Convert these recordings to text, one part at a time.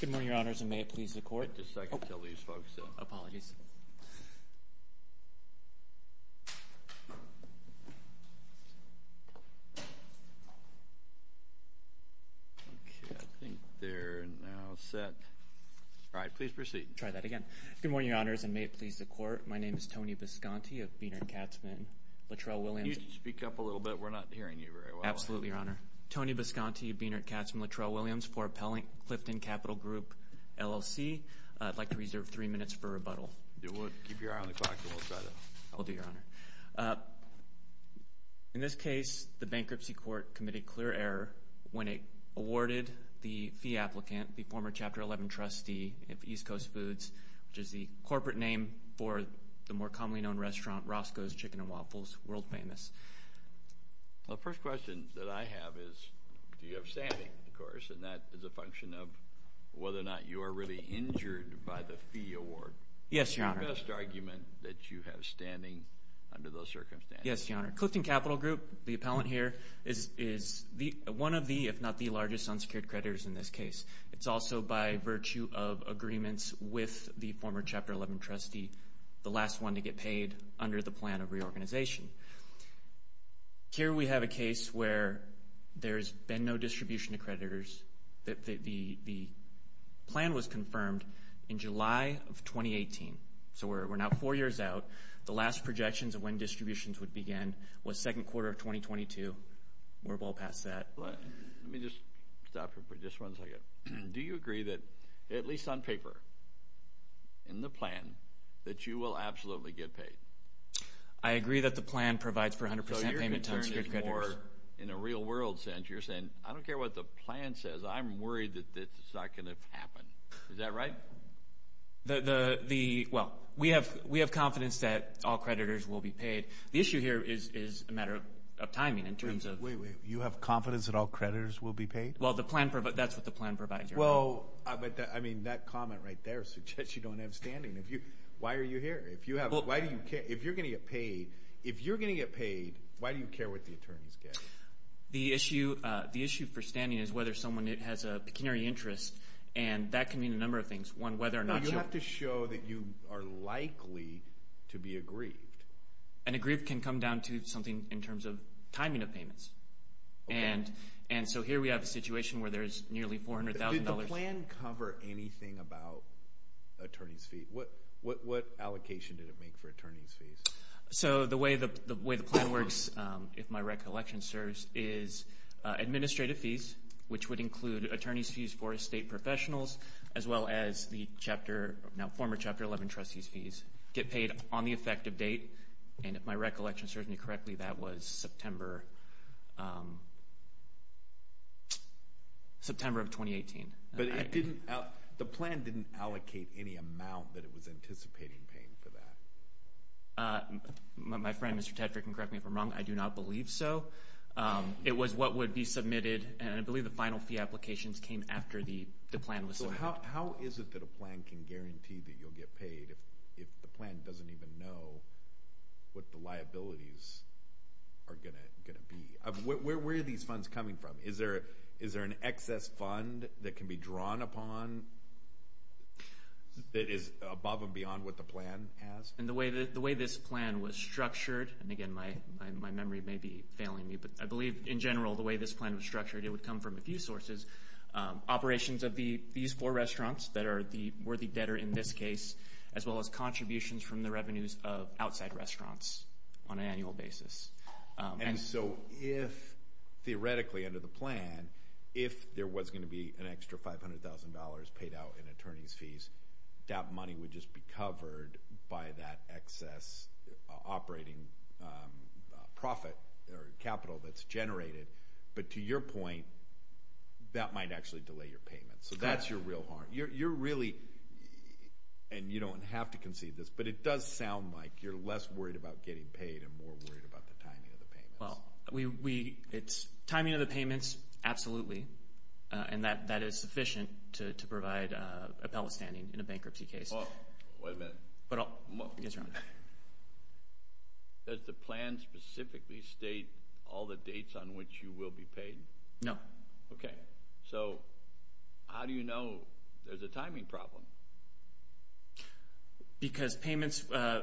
Good morning, your honors, and may it please the court. Wait a second until these folks sit. Apologies. Okay, I think they're now set. All right, please proceed. Try that again. Good morning, your honors, and may it please the court. My name is Tony Bisconti of Bienert-Katzmann-Littrell-Williams. You need to speak up a little bit. We're not hearing you very well. Absolutely, your honor. My name is Tony Bisconti of Bienert-Katzmann-Littrell-Williams for Clifton Capital Group, LLC. I'd like to reserve three minutes for rebuttal. Keep your eye on the clock, and we'll try that. I'll do, your honor. In this case, the bankruptcy court committed clear error when it awarded the fee applicant, the former Chapter 11 trustee of East Coast Foods, which is the corporate name for the more commonly known restaurant, Roscoe's Chicken and Waffles, world famous. The first question that I have is do you have standing, of course, and that is a function of whether or not you are really injured by the fee award. Yes, your honor. What's the best argument that you have standing under those circumstances? Yes, your honor. Clifton Capital Group, the appellant here, is one of the, if not the largest, unsecured creditors in this case. It's also by virtue of agreements with the former Chapter 11 trustee, the last one to get paid under the plan of reorganization. Here we have a case where there's been no distribution to creditors. The plan was confirmed in July of 2018, so we're now four years out. The last projections of when distributions would begin was second quarter of 2022. We're well past that. Let me just stop for just one second. Do you agree that, at least on paper, in the plan, that you will absolutely get paid? I agree that the plan provides for 100% payment to unsecured creditors. So you're concerned more in a real-world sense. You're saying, I don't care what the plan says. I'm worried that this is not going to happen. Is that right? Well, we have confidence that all creditors will be paid. The issue here is a matter of timing in terms of— Wait, wait. You have confidence that all creditors will be paid? Well, that's what the plan provides. Well, I mean, that comment right there suggests you don't have standing. Why are you here? If you're going to get paid, why do you care what the attorneys get? The issue for standing is whether someone has a pecuniary interest, and that can mean a number of things. One, whether or not— No, you have to show that you are likely to be aggrieved. And so here we have a situation where there's nearly $400,000— Did the plan cover anything about attorneys' fees? What allocation did it make for attorneys' fees? So the way the plan works, if my recollection serves, is administrative fees, which would include attorneys' fees for estate professionals, as well as the former Chapter 11 trustees' fees get paid on the effective date. And if my recollection serves me correctly, that was September of 2018. But the plan didn't allocate any amount that it was anticipating paying for that? My friend, Mr. Tetrick, and correct me if I'm wrong, I do not believe so. It was what would be submitted, and I believe the final fee applications came after the plan was submitted. So how is it that a plan can guarantee that you'll get paid if the plan doesn't even know what the liabilities are going to be? Where are these funds coming from? Is there an excess fund that can be drawn upon that is above and beyond what the plan has? And the way this plan was structured—and, again, my memory may be failing me, but I believe, in general, the way this plan was structured, it would come from a few sources. Operations of these four restaurants that are the worthy debtor in this case, as well as contributions from the revenues of outside restaurants on an annual basis. And so if, theoretically, under the plan, if there was going to be an extra $500,000 paid out in attorneys' fees, that money would just be covered by that excess operating profit or capital that's generated. But to your point, that might actually delay your payment. So that's your real harm. You're really—and you don't have to concede this, but it does sound like you're less worried about getting paid and more worried about the timing of the payments. Well, we—it's timing of the payments, absolutely. And that is sufficient to provide appellate standing in a bankruptcy case. Wait a minute. Yes, Your Honor. Does the plan specifically state all the dates on which you will be paid? No. Okay. So how do you know there's a timing problem? Because payments—well,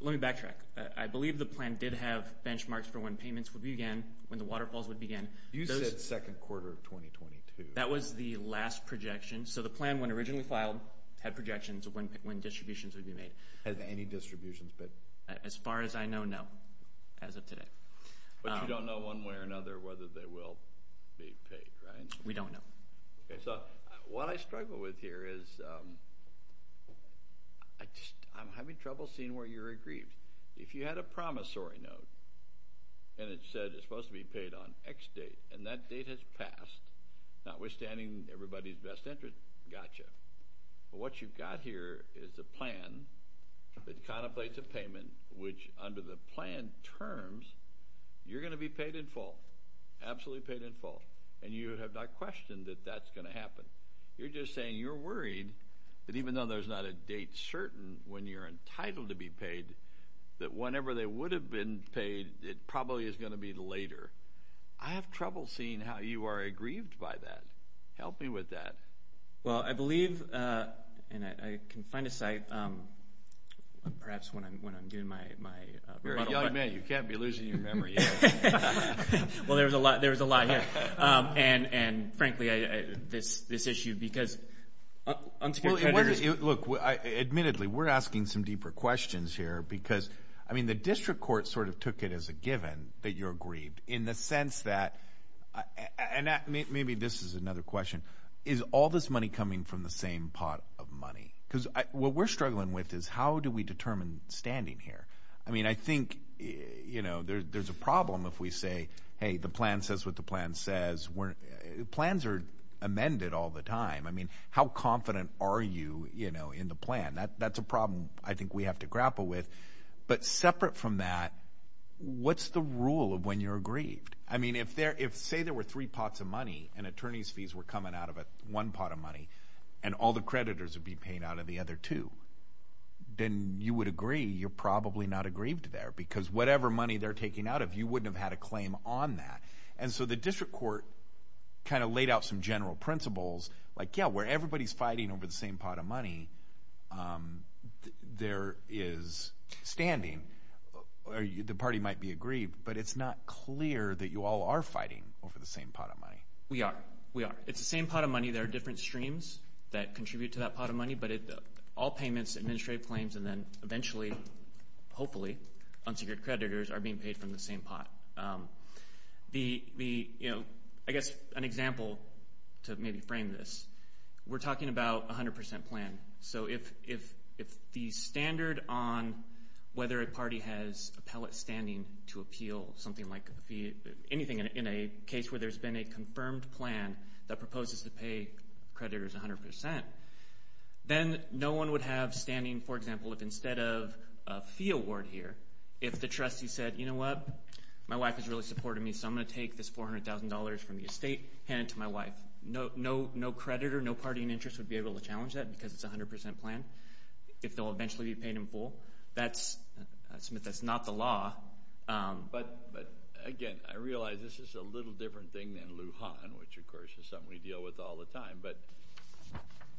let me backtrack. I believe the plan did have benchmarks for when payments would begin, when the waterfalls would begin. You said second quarter of 2022. That was the last projection. So the plan, when originally filed, had projections of when distributions would be made. Has any distributions been— As far as I know, no, as of today. But you don't know one way or another whether they will be paid, right? We don't know. Okay. So what I struggle with here is I'm having trouble seeing where you're aggrieved. If you had a promissory note and it said it's supposed to be paid on X date, and that date has passed, notwithstanding everybody's best interest, gotcha. But what you've got here is a plan that contemplates a payment, which under the plan terms, you're going to be paid in full, absolutely paid in full. And you have not questioned that that's going to happen. You're just saying you're worried that even though there's not a date certain when you're entitled to be paid, that whenever they would have been paid, it probably is going to be later. I have trouble seeing how you are aggrieved by that. Help me with that. Well, I believe, and I can find a site perhaps when I'm doing my rebuttal. You're a young man. You can't be losing your memory yet. Well, there was a lot here. And, frankly, this issue because— Look, admittedly, we're asking some deeper questions here because, I mean, the district court sort of took it as a given that you're aggrieved in the sense that, and maybe this is another question, is all this money coming from the same pot of money? Because what we're struggling with is how do we determine standing here? I mean, I think, you know, there's a problem if we say, hey, the plan says what the plan says. Plans are amended all the time. I mean, how confident are you, you know, in the plan? That's a problem I think we have to grapple with. But separate from that, what's the rule of when you're aggrieved? I mean, if, say, there were three pots of money and attorney's fees were coming out of one pot of money and all the creditors would be paying out of the other two, then you would agree you're probably not aggrieved there because whatever money they're taking out of you wouldn't have had a claim on that. And so the district court kind of laid out some general principles like, yeah, where everybody's fighting over the same pot of money, there is standing. The party might be aggrieved, but it's not clear that you all are fighting over the same pot of money. We are. We are. It's the same pot of money. There are different streams that contribute to that pot of money, but all payments, administrative claims, and then eventually, hopefully, unsecured creditors are being paid from the same pot. I guess an example to maybe frame this, we're talking about 100% plan. So if the standard on whether a party has appellate standing to appeal something like a fee, anything in a case where there's been a confirmed plan that proposes to pay creditors 100%, then no one would have standing, for example, if instead of a fee award here, if the trustee said, you know what, my wife has really supported me, so I'm going to take this $400,000 from the estate, hand it to my wife. No creditor, no party in interest would be able to challenge that because it's a 100% plan, if they'll eventually be paid in full. That's not the law. But, again, I realize this is a little different thing than Lujan, which, of course, is something we deal with all the time. But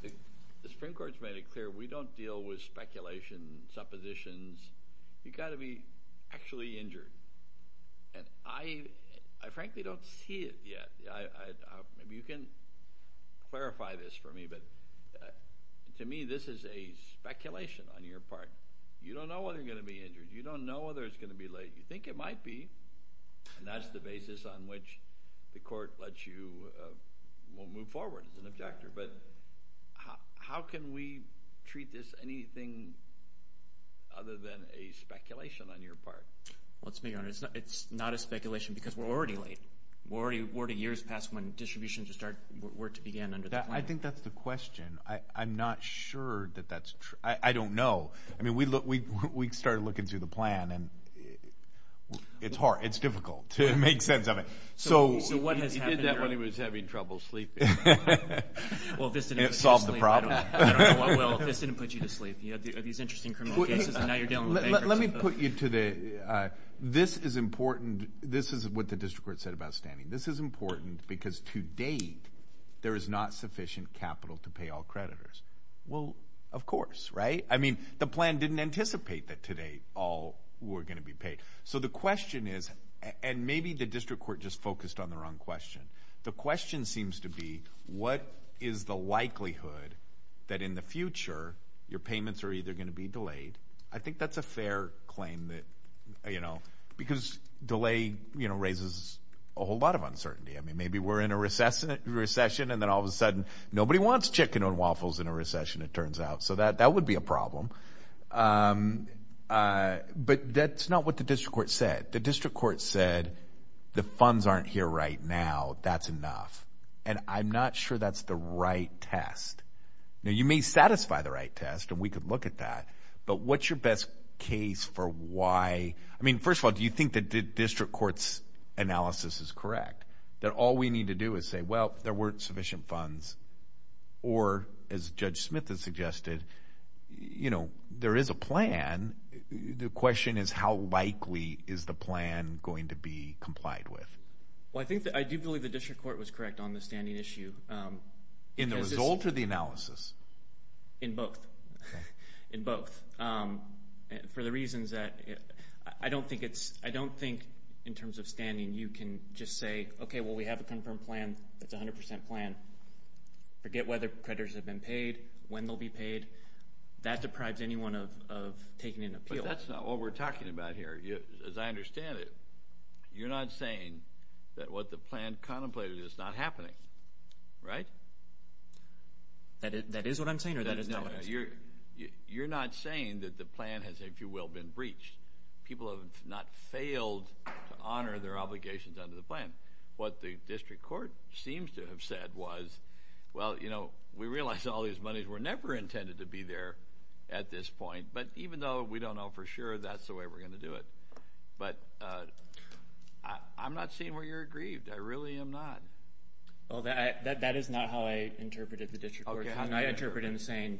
the Supreme Court has made it clear we don't deal with speculation, suppositions. You've got to be actually injured. And I frankly don't see it yet. Maybe you can clarify this for me, but to me this is a speculation on your part. You don't know whether you're going to be injured. You don't know whether it's going to be late. You think it might be, and that's the basis on which the court lets you move forward as an objector. But how can we treat this anything other than a speculation on your part? Let's be honest. It's not a speculation because we're already late. We're already years past when distributions were to begin under the plan. I think that's the question. I'm not sure that that's true. I don't know. I mean we started looking through the plan, and it's hard. It's difficult to make sense of it. He did that when he was having trouble sleeping. It solved the problem. Well, this didn't put you to sleep. You had these interesting criminal cases, and now you're dealing with bankers. Let me put you to the—this is important. This is what the district court said about standing. This is important because to date there is not sufficient capital to pay all creditors. Well, of course, right? I mean the plan didn't anticipate that to date all were going to be paid. So the question is—and maybe the district court just focused on the wrong question. The question seems to be what is the likelihood that in the future your payments are either going to be delayed. I think that's a fair claim because delay raises a whole lot of uncertainty. I mean maybe we're in a recession, and then all of a sudden nobody wants chicken and waffles in a recession, it turns out. So that would be a problem. But that's not what the district court said. The district court said the funds aren't here right now, that's enough. And I'm not sure that's the right test. Now, you may satisfy the right test, and we could look at that, but what's your best case for why— I mean, first of all, do you think that the district court's analysis is correct, that all we need to do is say, well, there weren't sufficient funds, or as Judge Smith has suggested, there is a plan. The question is how likely is the plan going to be complied with. Well, I do believe the district court was correct on the standing issue. In the result or the analysis? In both. In both. For the reasons that—I don't think in terms of standing you can just say, okay, well, we have a confirmed plan. That's a 100 percent plan. Forget whether creditors have been paid, when they'll be paid. That deprives anyone of taking an appeal. But that's not what we're talking about here. As I understand it, you're not saying that what the plan contemplated is not happening, right? That is what I'm saying or that is not what I'm saying? No, you're not saying that the plan has, if you will, been breached. People have not failed to honor their obligations under the plan. What the district court seems to have said was, well, you know, we realize all these monies were never intended to be there at this point. But even though we don't know for sure, that's the way we're going to do it. But I'm not seeing where you're aggrieved. I really am not. That is not how I interpreted the district court. How can I interpret him saying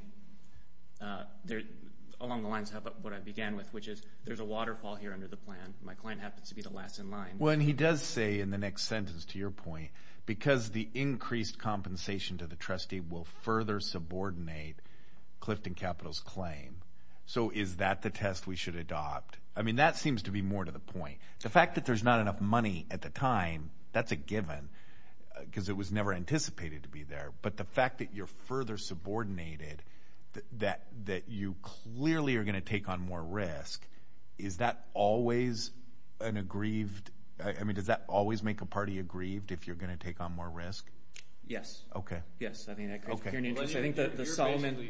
along the lines of what I began with, which is there's a waterfall here under the plan. My client happens to be the last in line. Well, and he does say in the next sentence, to your point, because the increased compensation to the trustee will further subordinate Clifton Capital's claim. So is that the test we should adopt? I mean, that seems to be more to the point. The fact that there's not enough money at the time, that's a given because it was never anticipated to be there. But the fact that you're further subordinated, that you clearly are going to take on more risk, is that always an aggrieved – I mean, does that always make a party aggrieved if you're going to take on more risk? Yes. Okay. Yes. You're basically saying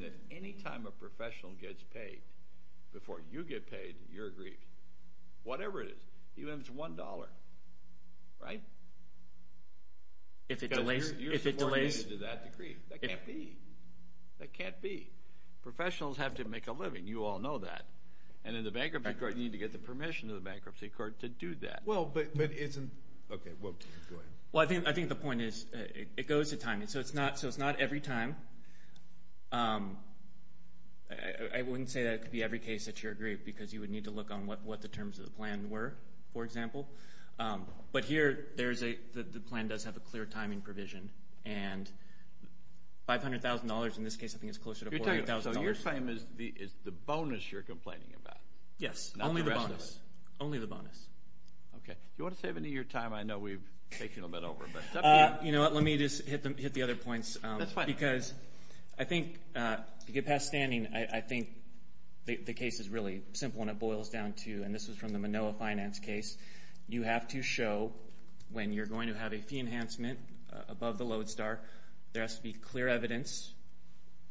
that any time a professional gets paid before you get paid, you're aggrieved, whatever it is, even if it's $1, right? If it delays – Because you're subordinated to that degree. That can't be. That can't be. Professionals have to make a living. You all know that. And in the bankruptcy court, you need to get the permission of the bankruptcy court to do that. Well, but isn't – okay, go ahead. Well, I think the point is it goes to time. So it's not every time. I wouldn't say that it could be every case that you're aggrieved because you would need to look on what the terms of the plan were, for example. But here, the plan does have a clear timing provision, and $500,000 in this case I think is closer to $400,000. So your claim is the bonus you're complaining about. Yes. Only the bonus. Only the bonus. Okay. Do you want to save any of your time? I know we've taken a little bit over. You know what? Let me just hit the other points. That's fine. I think to get past standing, I think the case is really simple and it boils down to – and this was from the Manoa finance case. You have to show when you're going to have a fee enhancement above the Lodestar, there has to be clear evidence,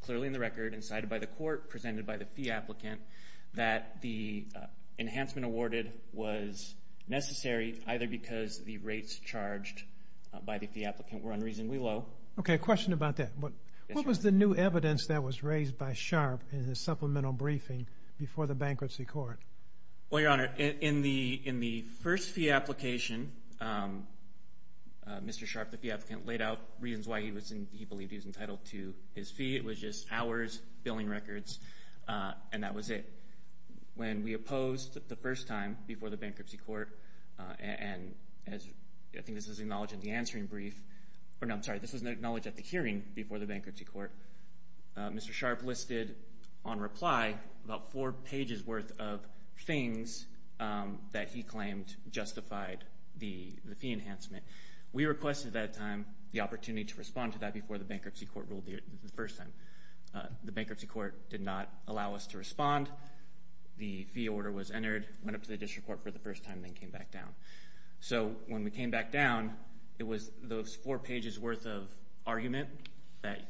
clearly in the record, and cited by the court, presented by the fee applicant, that the enhancement awarded was necessary either because the rates charged by the fee applicant were unreasonably low. Okay. A question about that. What was the new evidence that was raised by Sharpe in his supplemental briefing before the bankruptcy court? Well, Your Honor, in the first fee application, Mr. Sharpe, the fee applicant, laid out reasons why he believed he was entitled to his fee. It was just hours, billing records, and that was it. When we opposed the first time before the bankruptcy court, and I think this was acknowledged at the hearing before the bankruptcy court, Mr. Sharpe listed on reply about four pages' worth of things that he claimed justified the fee enhancement. We requested at that time the opportunity to respond to that before the bankruptcy court ruled the first time. The bankruptcy court did not allow us to respond. The fee order was entered, went up to the district court for the first time, and then came back down. So when we came back down, it was those four pages' worth of argument that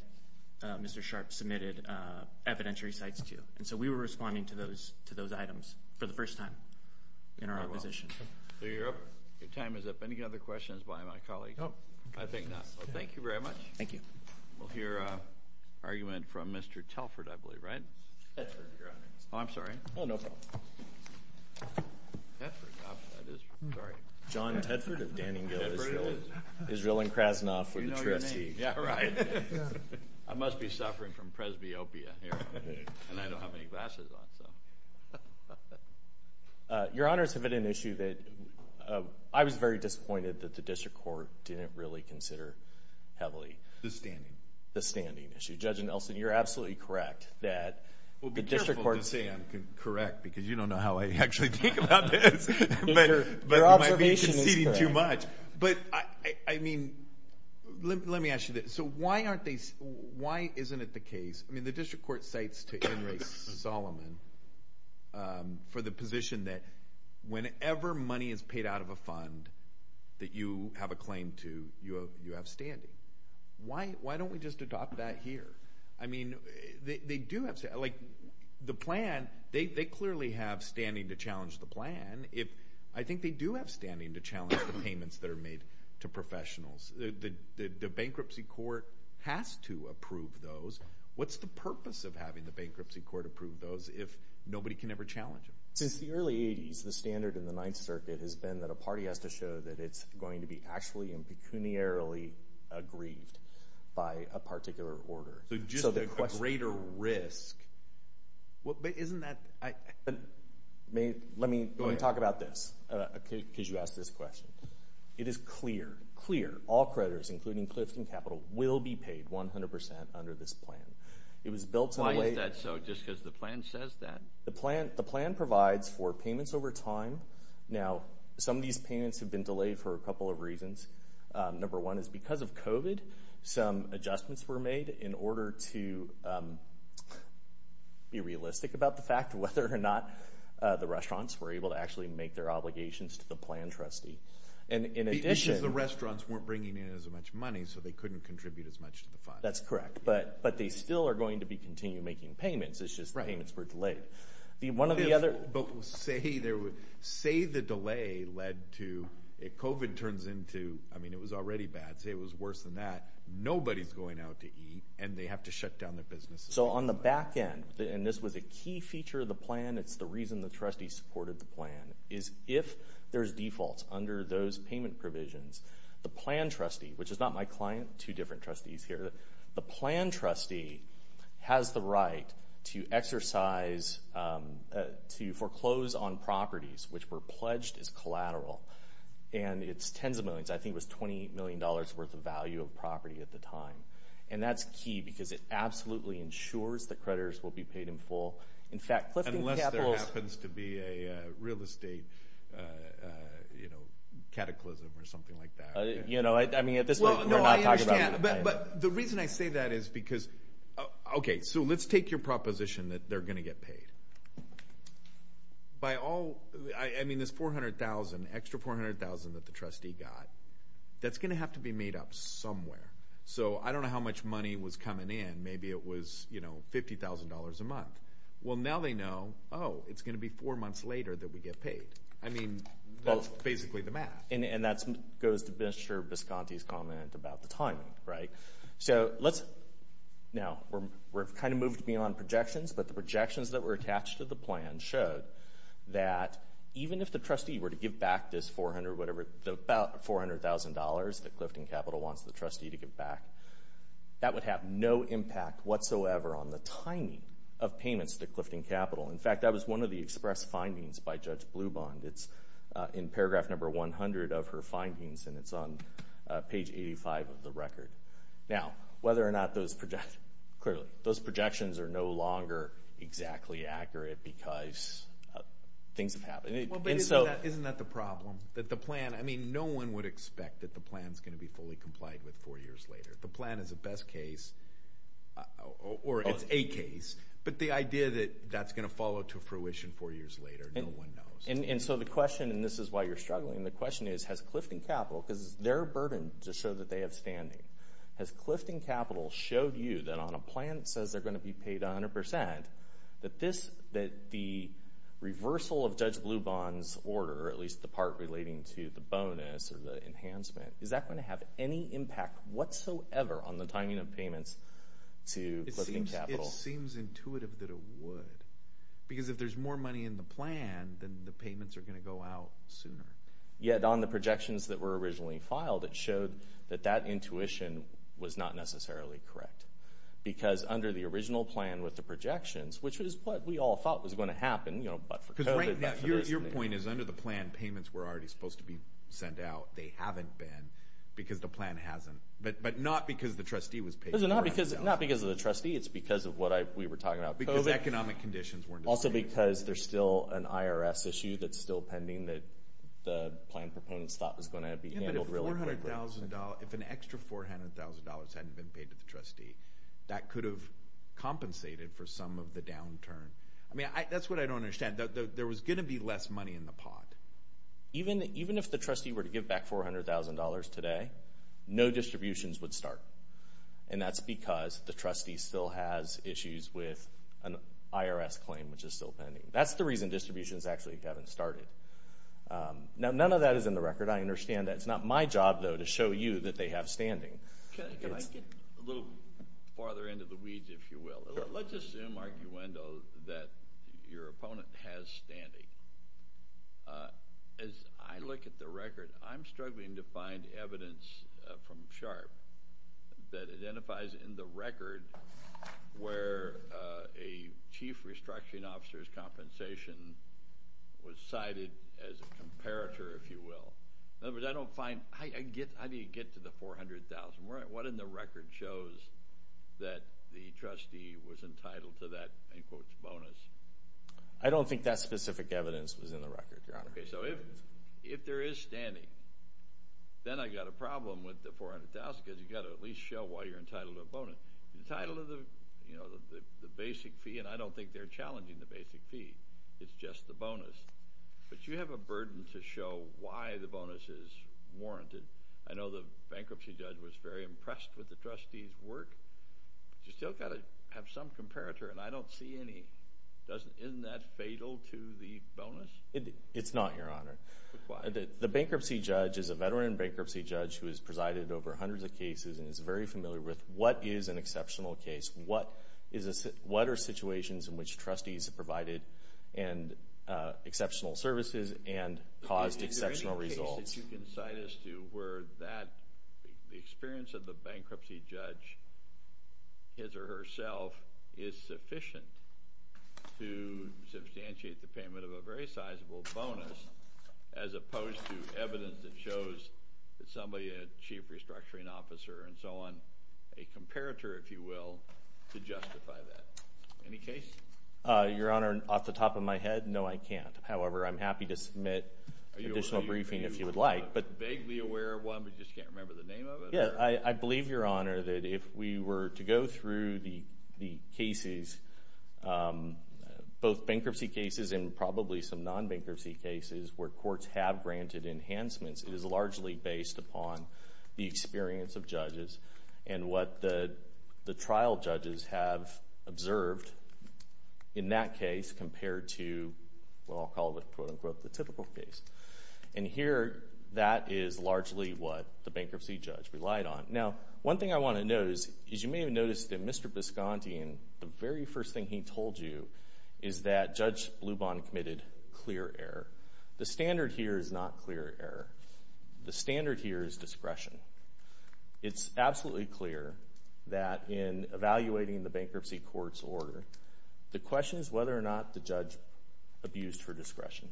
Mr. Sharpe submitted evidentiary cites to. And so we were responding to those items for the first time in our opposition. So your time is up. Any other questions by my colleague? I think not. Thank you very much. Thank you. We'll hear an argument from Mr. Telford, I believe, right? Telford, your honor. Oh, I'm sorry. Oh, no problem. John Telford of Danningville, Israel. Israel and Krasnoff were the trustees. We know your name. Yeah, right. I must be suffering from presbyopia here, and I don't have any glasses on, so. Your honors, I have an issue that I was very disappointed that the district court didn't really consider heavily. The standing. The standing issue. Judge Nelson, you're absolutely correct that the district court. Well, be careful to say I'm correct, because you don't know how I actually think about this. Your observation is correct. But you might be conceding too much. But, I mean, let me ask you this. So why aren't they, why isn't it the case? I mean, the district court cites to Inres Solomon for the position that whenever money is paid out of a fund that you have a claim to, you have standing. Why don't we just adopt that here? I mean, they do have, like, the plan, they clearly have standing to challenge the plan. I think they do have standing to challenge the payments that are made to professionals. The bankruptcy court has to approve those. What's the purpose of having the bankruptcy court approve those if nobody can ever challenge them? Since the early 80s, the standard in the Ninth Circuit has been that a party has to show that it's going to be actually and pecuniarily aggrieved by a particular order. So just a greater risk. Isn't that? Let me talk about this, because you asked this question. It is clear, clear, all creditors, including Clifton Capital, will be paid 100% under this plan. Why is that so, just because the plan says that? The plan provides for payments over time. Now, some of these payments have been delayed for a couple of reasons. Number one is because of COVID, some adjustments were made in order to be realistic about the fact of whether or not the restaurants were able to actually make their obligations to the plan trustee. The issue is the restaurants weren't bringing in as much money, so they couldn't contribute as much to the fund. That's correct. But they still are going to be continuing making payments. It's just the payments were delayed. But say the delay led to, if COVID turns into, I mean, it was already bad. Say it was worse than that. Nobody's going out to eat, and they have to shut down their businesses. So on the back end, and this was a key feature of the plan, it's the reason the trustee supported the plan, is if there's defaults under those payment provisions, the plan trustee, which is not my client, two different trustees here, the plan trustee has the right to exercise, to foreclose on properties which were pledged as collateral. And it's tens of millions. I think it was $20 million worth of value of property at the time. And that's key because it absolutely ensures that creditors will be paid in full. In fact, Clifton Capital's… Unless there happens to be a real estate, you know, cataclysm or something like that. You know, I mean, at this point, we're not talking about… But the reason I say that is because… Okay, so let's take your proposition that they're going to get paid. By all… I mean, this 400,000, extra 400,000 that the trustee got, that's going to have to be made up somewhere. So I don't know how much money was coming in. Maybe it was, you know, $50,000 a month. Well, now they know, oh, it's going to be four months later that we get paid. I mean, that's basically the math. And that goes to Mr. Bisconti's comment about the timing, right? So let's… Now, we've kind of moved beyond projections, but the projections that were attached to the plan showed that even if the trustee were to give back this 400, whatever, about $400,000 that Clifton Capital wants the trustee to give back, that would have no impact whatsoever on the timing of payments to Clifton Capital. In fact, that was one of the express findings by Judge Blubond. It's in paragraph number 100 of her findings, and it's on page 85 of the record. Now, whether or not those projections… Clearly, those projections are no longer exactly accurate because things have happened. Well, but isn't that the problem? That the plan… I mean, no one would expect that the plan is going to be fully complied with four years later. The plan is a best case, or it's a case, but the idea that that's going to follow to fruition four years later, no one knows. And so the question, and this is why you're struggling, the question is, has Clifton Capital, because it's their burden to show that they have standing, has Clifton Capital showed you that on a plan that says they're going to be paid 100% that the reversal of Judge Blubond's order, or at least the part relating to the bonus or the enhancement, is that going to have any impact whatsoever on the timing of payments to Clifton Capital? It seems intuitive that it would. Because if there's more money in the plan, then the payments are going to go out sooner. Yet on the projections that were originally filed, it showed that that intuition was not necessarily correct. Because under the original plan with the projections, which is what we all thought was going to happen, you know, but for COVID, but for this thing. Because right now, your point is under the plan, payments were already supposed to be sent out. They haven't been because the plan hasn't. But not because the trustee was paid. Not because of the trustee. It's because of what we were talking about. Because economic conditions weren't the same. Also because there's still an IRS issue that's still pending that the plan proponents thought was going to be handled really quickly. Yeah, but if an extra $400,000 hadn't been paid to the trustee, that could have compensated for some of the downturn. I mean, that's what I don't understand. There was going to be less money in the pot. Even if the trustee were to give back $400,000 today, no distributions would start. And that's because the trustee still has issues with an IRS claim, which is still pending. That's the reason distributions actually haven't started. Now, none of that is in the record. I understand that it's not my job, though, to show you that they have standing. Can I get a little farther into the weeds, if you will? Let's assume, arguendo, that your opponent has standing. As I look at the record, I'm struggling to find evidence from SHARP that identifies in the record where a chief restructuring officer's compensation was cited as a comparator, if you will. In other words, I don't find – how do you get to the $400,000? What in the record shows that the trustee was entitled to that, in quotes, bonus? I don't think that specific evidence was in the record, Your Honor. Okay. So if there is standing, then I've got a problem with the $400,000 because you've got to at least show why you're entitled to a bonus. You're entitled to the basic fee, and I don't think they're challenging the basic fee. It's just the bonus. But you have a burden to show why the bonus is warranted. I know the bankruptcy judge was very impressed with the trustee's work. You've still got to have some comparator, and I don't see any. Isn't that fatal to the bonus? It's not, Your Honor. The bankruptcy judge is a veteran bankruptcy judge who has presided over hundreds of cases and is very familiar with what is an exceptional case, what are situations in which trustees have provided exceptional services and caused exceptional results. So you can cite us to where the experience of the bankruptcy judge, his or herself, is sufficient to substantiate the payment of a very sizable bonus as opposed to evidence that shows that somebody, a chief restructuring officer and so on, a comparator, if you will, to justify that. Any case? Your Honor, off the top of my head, no, I can't. However, I'm happy to submit additional briefing if you would like. Are you vaguely aware of one, but just can't remember the name of it? Yeah, I believe, Your Honor, that if we were to go through the cases, both bankruptcy cases and probably some non-bankruptcy cases where courts have granted enhancements, and what the trial judges have observed in that case compared to, well, I'll call it the typical case. And here, that is largely what the bankruptcy judge relied on. Now, one thing I want to note is you may have noticed that Mr. Bisconti, the very first thing he told you is that Judge Blubon committed clear error. The standard here is not clear error. The standard here is discretion. It's absolutely clear that in evaluating the bankruptcy court's order, the question is whether or not the judge abused her discretion.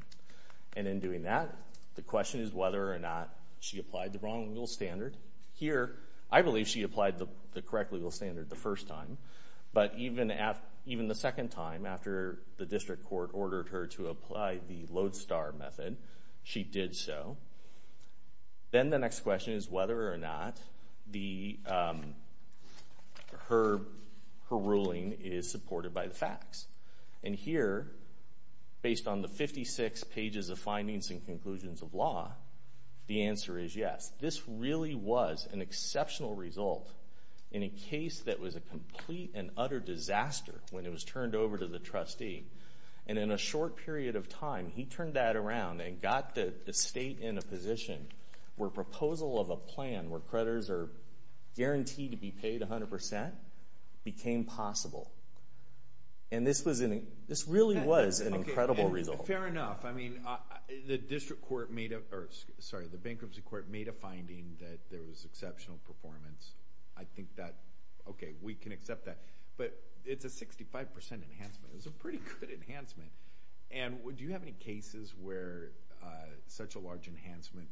And in doing that, the question is whether or not she applied the wrong legal standard. Here, I believe she applied the correct legal standard the first time, but even the second time after the district court ordered her to apply the lodestar method, she did so. Then the next question is whether or not her ruling is supported by the facts. And here, based on the 56 pages of findings and conclusions of law, the answer is yes. This really was an exceptional result in a case that was a complete and utter disaster when it was turned over to the trustee. And in a short period of time, he turned that around and got the state in a position where proposal of a plan where creditors are guaranteed to be paid 100% became possible. And this really was an incredible result. Fair enough. I mean, the bankruptcy court made a finding that there was exceptional performance. I think that, okay, we can accept that. But it's a 65% enhancement. It's a pretty good enhancement. And do you have any cases where such a large enhancement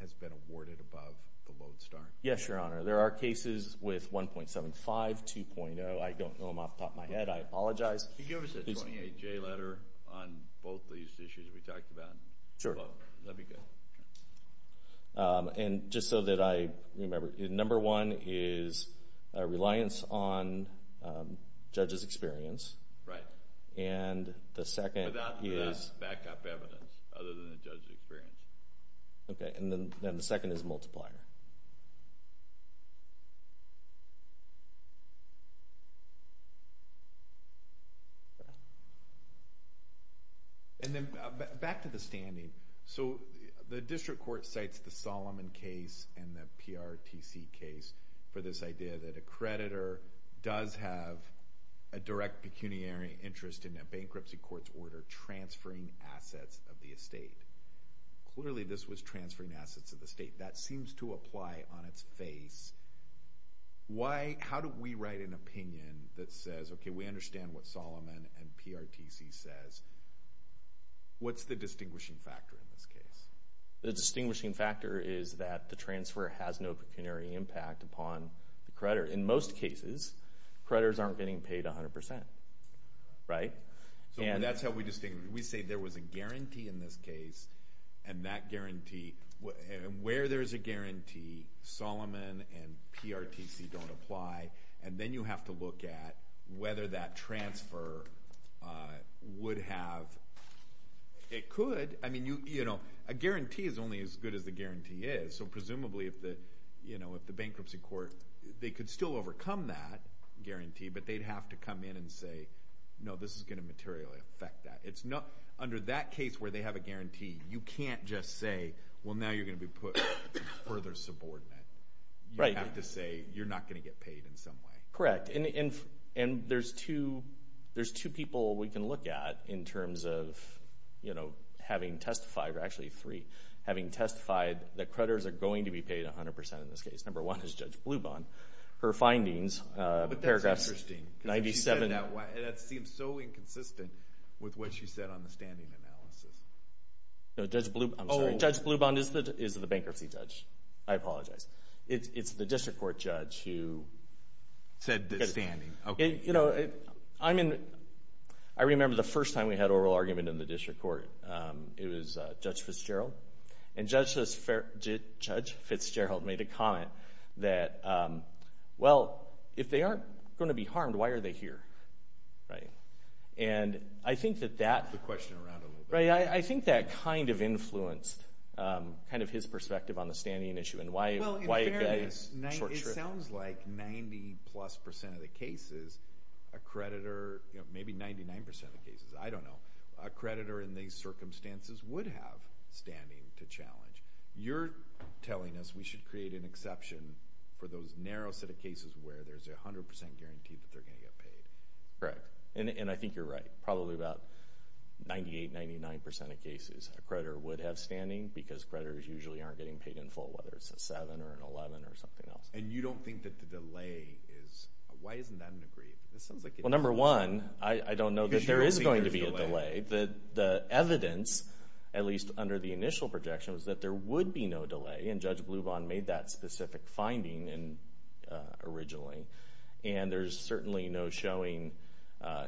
has been awarded above the lodestar? Yes, Your Honor. There are cases with 1.75, 2.0. I don't know them off the top of my head. I apologize. Could you give us a 28-J letter on both these issues we talked about? Sure. That would be good. And just so that I remember, number one is reliance on judge's experience. Right. And the second is? Without the backup evidence other than the judge's experience. Okay. And then the second is multiplier. And then back to the standing. So the district court cites the Solomon case and the PRTC case for this idea that a creditor does have a direct pecuniary interest in a bankruptcy court's order transferring assets of the estate. Clearly, this was transferring assets of the estate. That seems to apply on its face. How do we write an opinion that says, okay, we understand what Solomon and PRTC says? What's the distinguishing factor in this case? The distinguishing factor is that the transfer has no pecuniary impact upon the creditor. In most cases, creditors aren't getting paid 100%. Right? So that's how we distinguish. We say there was a guarantee in this case, and where there's a guarantee, Solomon and PRTC don't apply. And then you have to look at whether that transfer would have – it could. A guarantee is only as good as the guarantee is. So presumably, if the bankruptcy court – they could still overcome that guarantee, but they'd have to come in and say, no, this is going to materially affect that. Under that case where they have a guarantee, you can't just say, well, now you're going to be put further subordinate. You have to say you're not going to get paid in some way. Correct. And there's two people we can look at in terms of, you know, having testified – or actually three – having testified that creditors are going to be paid 100% in this case. Number one is Judge Blubond. Her findings, paragraph 97. But that's interesting because she said it that way, and that seems so inconsistent with what she said on the standing analysis. No, Judge Blubond – I'm sorry. Judge Blubond is the bankruptcy judge. I apologize. It's the district court judge who – Said the standing. Okay. You know, I'm in – I remember the first time we had oral argument in the district court. It was Judge Fitzgerald. And Judge Fitzgerald made a comment that, well, if they aren't going to be harmed, why are they here, right? And I think that that – Move the question around a little bit. Right. I think that kind of influenced kind of his perspective on the standing issue and why – Well, in fairness, it sounds like 90-plus percent of the cases a creditor – maybe 99% of the cases, I don't know – a creditor in these circumstances would have standing to challenge. You're telling us we should create an exception for those narrow set of cases where there's a 100% guarantee that they're going to get paid. Correct. And I think you're right. Probably about 98%, 99% of cases a creditor would have standing because creditors usually aren't getting paid in full, whether it's a 7 or an 11 or something else. And you don't think that the delay is – why isn't that an agreement? It sounds like – Well, number one, I don't know that there is going to be a delay. Because you don't think there's a delay. The evidence, at least under the initial projection, was that there would be no delay. And Judge Blubin made that specific finding originally. And there's certainly no showing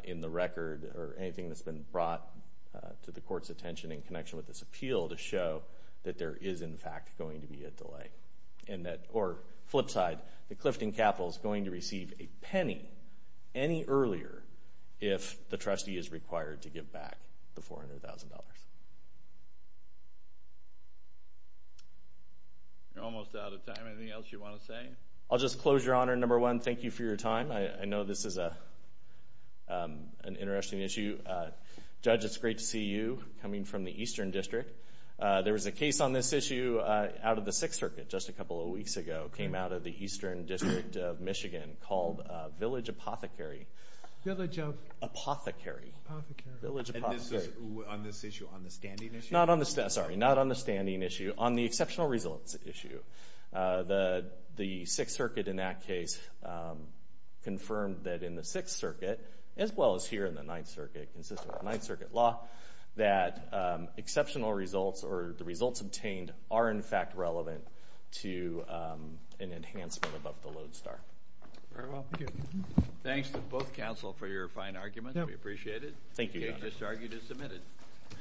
in the record or anything that's been brought to the court's attention in connection with this appeal to show that there is, in fact, going to be a delay. Or flip side, the Clifton Capital is going to receive a penny any earlier if the trustee is required to give back the $400,000. You're almost out of time. Anything else you want to say? I'll just close, Your Honor. Number one, thank you for your time. I know this is an interesting issue. Judge, it's great to see you coming from the Eastern District. There was a case on this issue out of the Sixth Circuit just a couple of weeks ago, came out of the Eastern District of Michigan called Village Apothecary. Village of? Apothecary. Apothecary. Village Apothecary. On this issue, on the standing issue? Sorry, not on the standing issue. On the exceptional results issue. The Sixth Circuit in that case confirmed that in the Sixth Circuit, as well as here in the Ninth Circuit, consistent with the Ninth Circuit law, that exceptional results or the results obtained are, in fact, relevant to an enhancement above the load star. Very well. Thank you. Thanks to both counsel for your fine arguments. We appreciate it. Thank you, Your Honor. The case just argued is submitted.